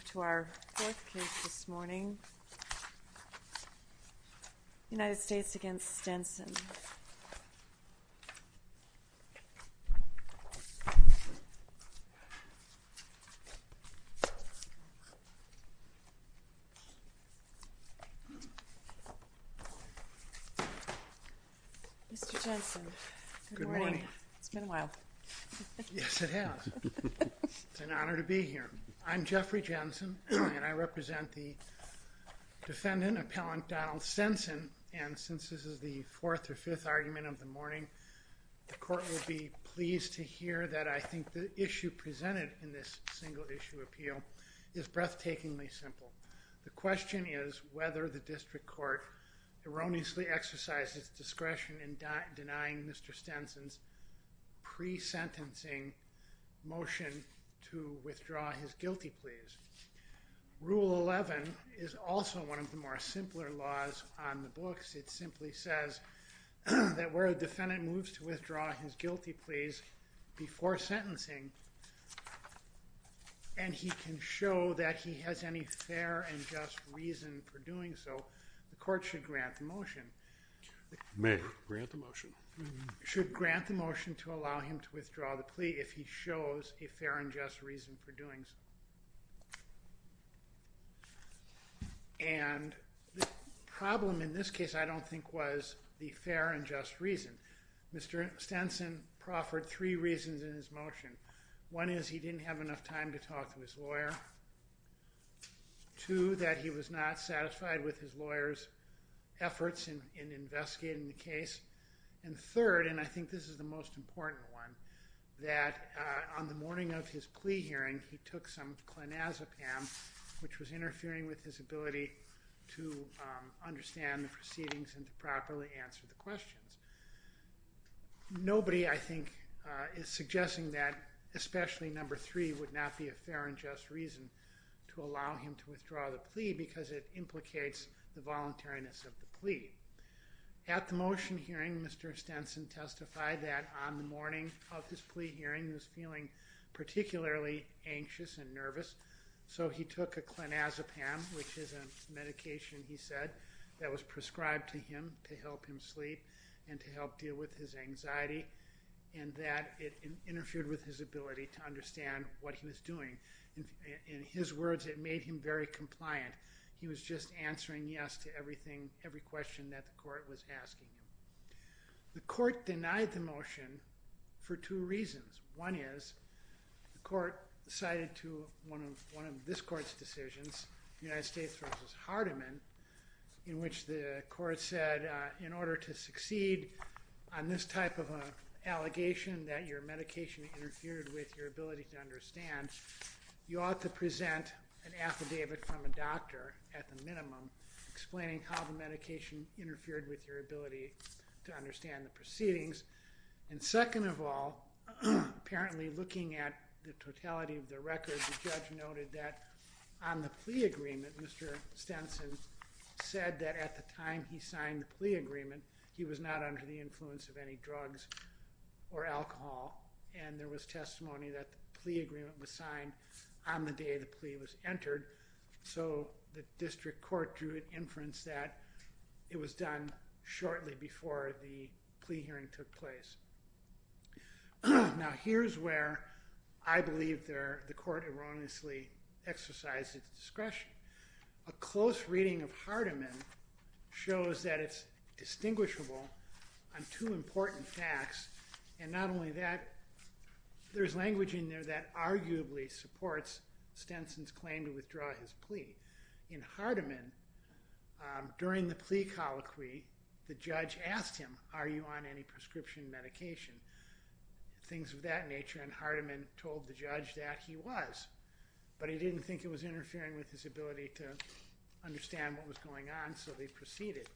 Good morning. It's been awhile. Yes, it has. It's an honor to be here. I'm Jeffrey Jensen, and I represent the defendant, appellant Donald Stenson. And since this is the fourth or fifth argument of the morning, the court will be pleased to hear that I think the issue presented in this single issue appeal is breathtakingly simple. The question is whether the district court erroneously exercises discretion in denying Mr. Stenson's pre-sentencing motion to withdraw his guilty pleas. Rule 11 is also one of the more simpler laws on the books. It simply says that where a defendant moves to withdraw his guilty pleas before sentencing, and he can show that he has any fair and just reason for doing so, the court should grant the motion. May I grant the motion? Should grant the motion to allow him to withdraw the plea if he shows a fair and just reason for doing so. And the problem in this case I don't think was the fair and just reason. Mr. Stenson proffered three reasons in his motion. One is he didn't have enough time to talk to his lawyer. Two, that he was not satisfied with his lawyer's efforts in the morning of his plea hearing, he took some clonazepam, which was interfering with his ability to understand the proceedings and properly answer the questions. Nobody, I think, is suggesting that especially number three would not be a fair and just reason to allow him to withdraw the plea because it implicates the voluntariness of the plea. At the motion hearing, Mr. Stenson testified that on the morning of his plea hearing, he was feeling particularly anxious and nervous, so he took a clonazepam, which is a medication, he said, that was prescribed to him to help him sleep and to help deal with his anxiety, and that it interfered with his ability to understand what he was doing. In his words, it made him very compliant. He was just answering yes to everything, every question that the court was asking. The court denied the motion for two reasons. One is, the court cited to one of this court's decisions, United States v. Hardiman, in which the court said, in order to succeed on this type of an allegation that your medication interfered with your ability to understand, you ought to present an affidavit from a doctor, at the minimum, explaining how the medication interfered with your ability to understand the proceedings. And second of all, apparently looking at the totality of the record, the judge noted that on the plea agreement, Mr. Stenson said that at the time he signed the plea agreement, he was not under the influence of any drugs or alcohol, and there was testimony that the plea agreement was signed on the day the plea was entered. So the district court drew an inference that it was done shortly before the plea hearing took place. Now here's where I believe the court erroneously exercised its discretion. A close reading of Hardiman shows that it's distinguishable on two important facts, and not only that, there's language in there that arguably supports Stenson's claim to withdraw his plea. In Hardiman, during the plea colloquy, the judge asked him, are you on any prescription medication? Things of that nature, and Hardiman told the judge that he was, but he didn't think it was interfering with his ability to understand what was going on, so they proceeded.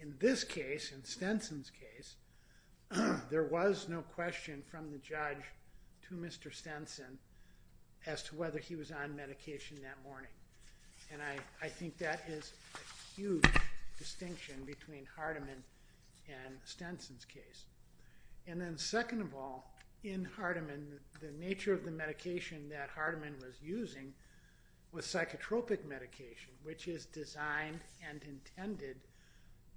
In this case, in Stenson's case, there was no question from the judge to Mr. Stenson as to whether he was on medication that morning, and I think that is a huge distinction between Hardiman and Stenson's case. And then second of all, in Hardiman, the nature of the medication that Hardiman was using was psychotropic medication, which is designed and intended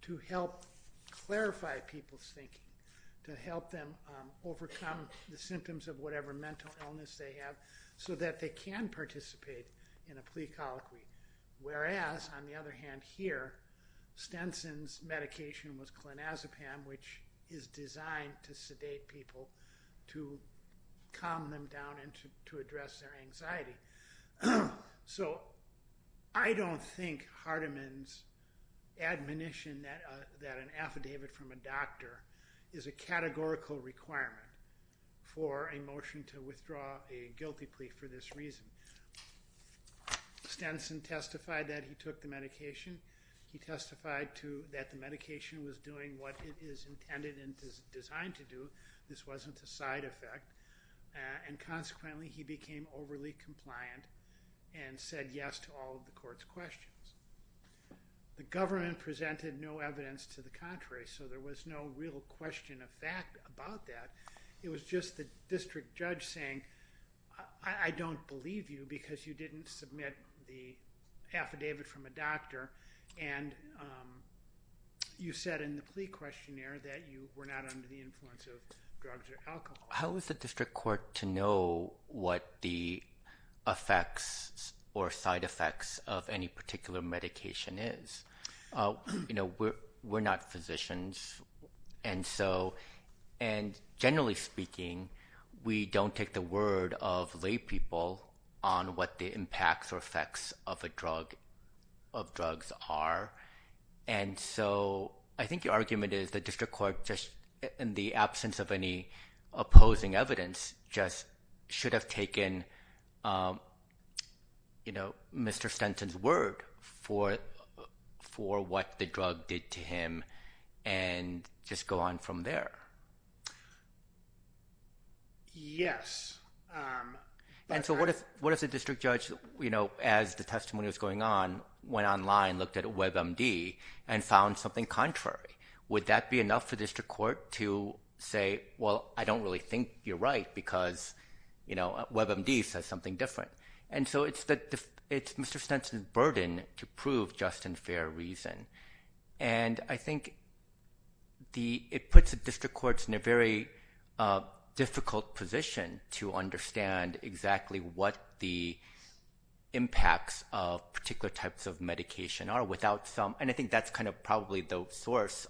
to help clarify people's thinking, to help them overcome the symptoms of whatever mental illness they have, so that they can participate in a plea colloquy. Whereas, on the other hand here, Stenson's medication was So, I don't think Hardiman's admonition that an affidavit from a doctor is a categorical requirement for a motion to withdraw a guilty plea for this reason. Stenson testified that he took the medication, he testified that the medication was doing what it is intended and designed to do, this wasn't a side effect, and consequently he became overly compliant and said yes to all of the court's questions. The government presented no evidence to the contrary, so there was no real question of fact about that. It was just the district judge saying, I don't believe you because you didn't submit the affidavit from a doctor, and you said in the plea questionnaire that you were not under the influence of drugs or alcohol. How is the district court to know what the effects or side effects of any particular medication is? You know, we're not physicians, and generally speaking, we don't take the word of lay people on what the impacts or effects of a drug, of drugs are, and so I think your argument is the district court in the absence of any opposing evidence just should have taken, you know, Mr. Stenson's word for what the drug did to him and just go on from there. Yes. And so what if the district judge, you know, as the testimony was going on, went online, looked at the district court to say, well, I don't really think you're right because, you know, WebMD says something different, and so it's Mr. Stenson's burden to prove just and fair reason, and I think it puts the district courts in a very difficult position to understand exactly what the impacts of particular types of medication are without some, and I think that's kind of probably the Posner's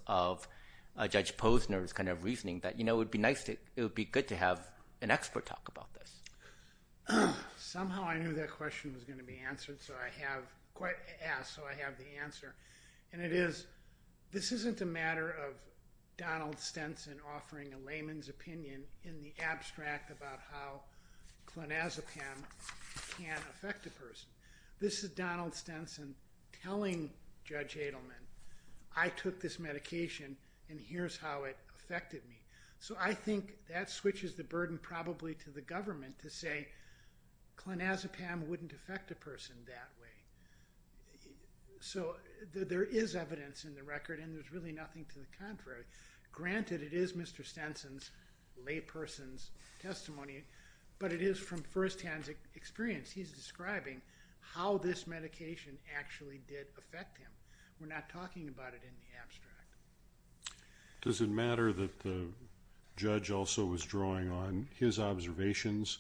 kind of reasoning that, you know, it would be nice to, it would be good to have an expert talk about this. Somehow I knew that question was going to be answered, so I have, quite asked, so I have the answer, and it is, this isn't a matter of Donald Stenson offering a layman's opinion in the abstract about how clonazepam can affect a person. This is Donald Stenson telling Judge Adelman, I took this medication, and this is how it affected me. So I think that switches the burden probably to the government to say clonazepam wouldn't affect a person that way. So there is evidence in the record, and there's really nothing to the contrary. Granted, it is Mr. Stenson's layperson's testimony, but it is from firsthand experience. He's describing how this medication actually did affect him. We're not that the judge also was drawing on his observations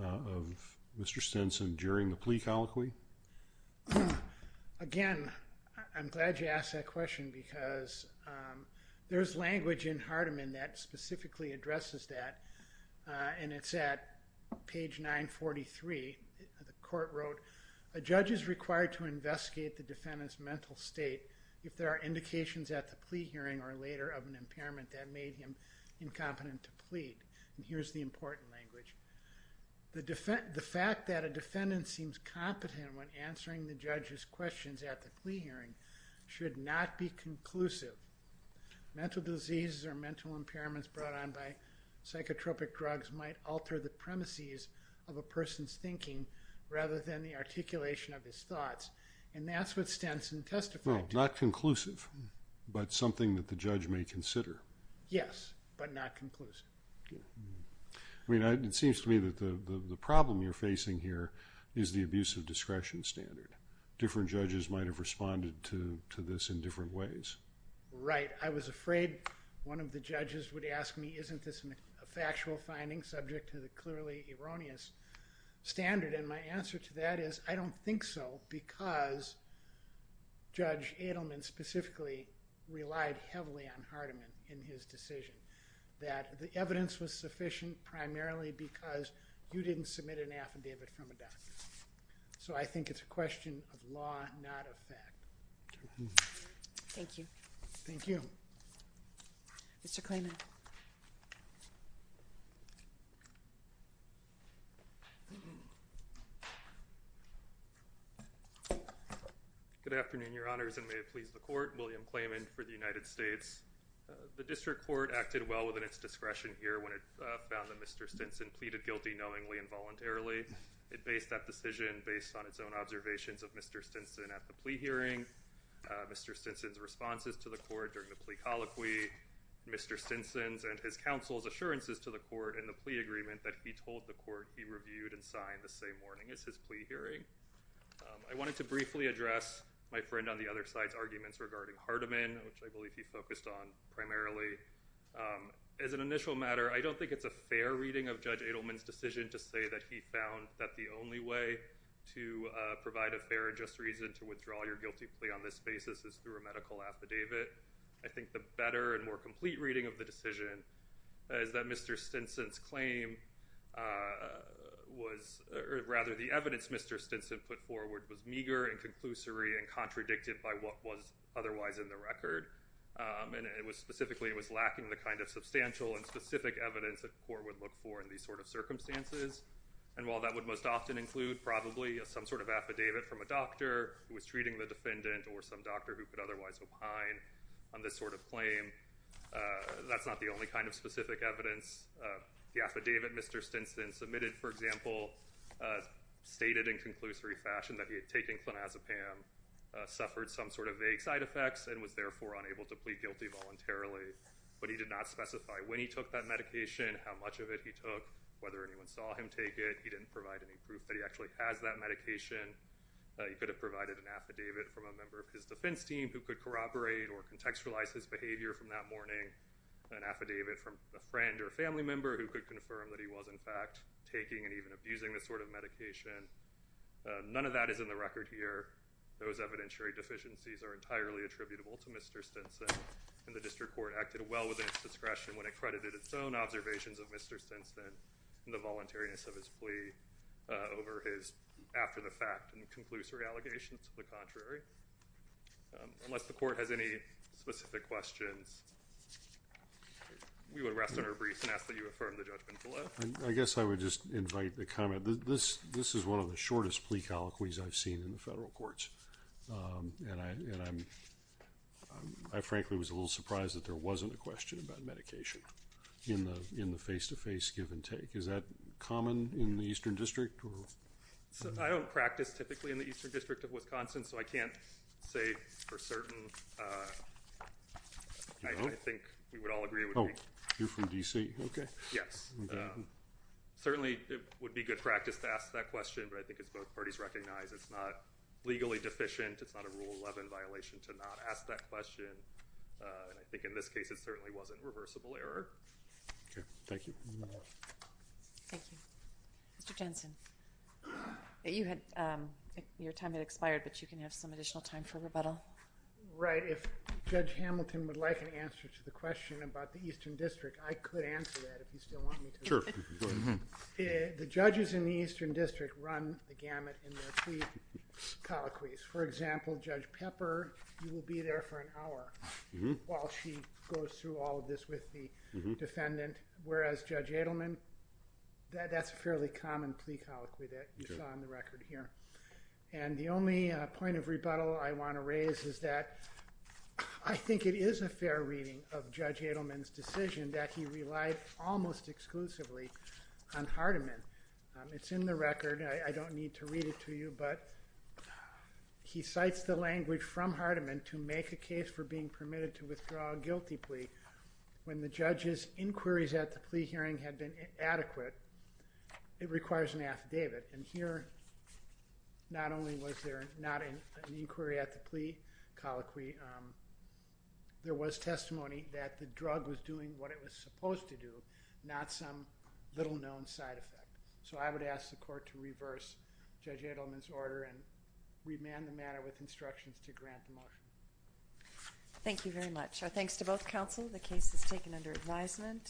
of Mr. Stenson during the plea colloquy. Again, I'm glad you asked that question because there's language in Hardeman that specifically addresses that, and it's at page 943. The court wrote, a judge is required to investigate the incompetent to plead. And here's the important language. The fact that a defendant seems competent when answering the judge's questions at the plea hearing should not be conclusive. Mental diseases or mental impairments brought on by psychotropic drugs might alter the premises of a person's thinking rather than the articulation of his thoughts. And that's what Stenson testified to. Not conclusive, but something that the judge may consider. Yes, but not conclusive. I mean, it seems to me that the problem you're facing here is the abuse of discretion standard. Different judges might have responded to this in different ways. Right. I was afraid one of the judges would ask me, isn't this a factual finding subject to the clearly erroneous standard? And my answer to that is, I don't think so because Judge Edelman specifically relied heavily on Hardeman in his decision. That the evidence was sufficient primarily because you didn't submit an affidavit from a doctor. So I think it's a question of law, not of fact. Thank you. Thank you. Mr. Klayman. Good afternoon, your honors, and may it please the court. William Klayman for the United States. The District Court acted well within its discretion here when it found that Mr. Stenson pleaded guilty knowingly and voluntarily. It based that decision based on its own observations of Mr. Stenson at the plea hearing. Mr. Stenson's responses to the court during the plea colloquy. Mr. Stenson's and his counsel's assurances to the court in the plea agreement that he told the court he reviewed and signed the same morning as his plea hearing. I wanted to briefly address my friend on the other side's arguments regarding Hardeman, which I believe he focused on primarily. As an initial matter, I don't think it's a fair reading of Judge Edelman's decision to say that he found that the only way to provide a fair and just reason to withdraw your guilty plea on this basis is through a medical affidavit. I think the better and more complete reading of the decision is that Mr. Stenson's claim was rather the evidence Mr. Stenson put forward was meager and conclusory and contradicted by what was otherwise in the record. And it was specifically, it was lacking the kind of substantial and specific evidence that the court would look for in these sort of circumstances. And while that would most often include probably some sort of doctor who could otherwise opine on this sort of claim, that's not the only kind of specific evidence. The affidavit Mr. Stenson submitted, for example, stated in conclusory fashion that he had taken clonazepam, suffered some sort of vague side effects and was therefore unable to plead guilty voluntarily. But he did not specify when he took that medication, how much of it he took, whether anyone saw him take it. He didn't provide any proof that he actually has that team who could corroborate or contextualize his behavior from that morning, an affidavit from a friend or family member who could confirm that he was in fact taking and even abusing this sort of medication. None of that is in the record here. Those evidentiary deficiencies are entirely attributable to Mr. Stenson. And the district court acted well within its discretion when accredited its own observations of Mr. Stenson and the voluntariness of his plea over his after-the-fact and conclusory allegations to the contrary. Unless the court has any specific questions, we would rest on our briefs and ask that you affirm the judgment below. I guess I would just invite the comment that this is one of the shortest plea colloquies I've seen in the federal courts. And I frankly was a little surprised that there wasn't a question about medication in the face-to-face give and take. Is that common in the Eastern District? So, I don't practice typically in the Eastern District of Wisconsin, so I can't say for certain. I think we would all agree. Oh, you're from D.C. Okay. Yes. Certainly, it would be good practice to ask that question, but I think it's both parties recognize it's not legally deficient. It's not a Rule 11 violation to not ask that question. And I think in this case, it certainly wasn't reversible error. Okay. Thank you. Thank you. Mr. Jensen, your time has expired, but you can have some additional time for rebuttal. Right. If Judge Hamilton would like an answer to the question about the Eastern District, I could answer that if you still want me to. Sure. The judges in the Eastern District run the gamut in their plea colloquies. For example, Judge Pepper, you will be there for an hour while she goes through all this with the defendant, whereas Judge Adelman, that's a fairly common plea colloquy that you saw on the record here. And the only point of rebuttal I want to raise is that I think it is a fair reading of Judge Adelman's decision that he relied almost exclusively on Hardiman. It's in the record. I don't need to read it to you, but he cites the language from Hardiman to make a case for being permitted to withdraw a guilty plea. When the judge's inquiries at the plea hearing had been adequate, it requires an affidavit. And here, not only was there not an inquiry at the plea colloquy, there was testimony that the drug was doing what it was supposed to do, not some little known side effect. So I would ask the court to reverse Judge Adelman's order and remand the matter with instructions to grant the motion. Thank you very much. Our thanks to both counsel. The case is taken under advisement.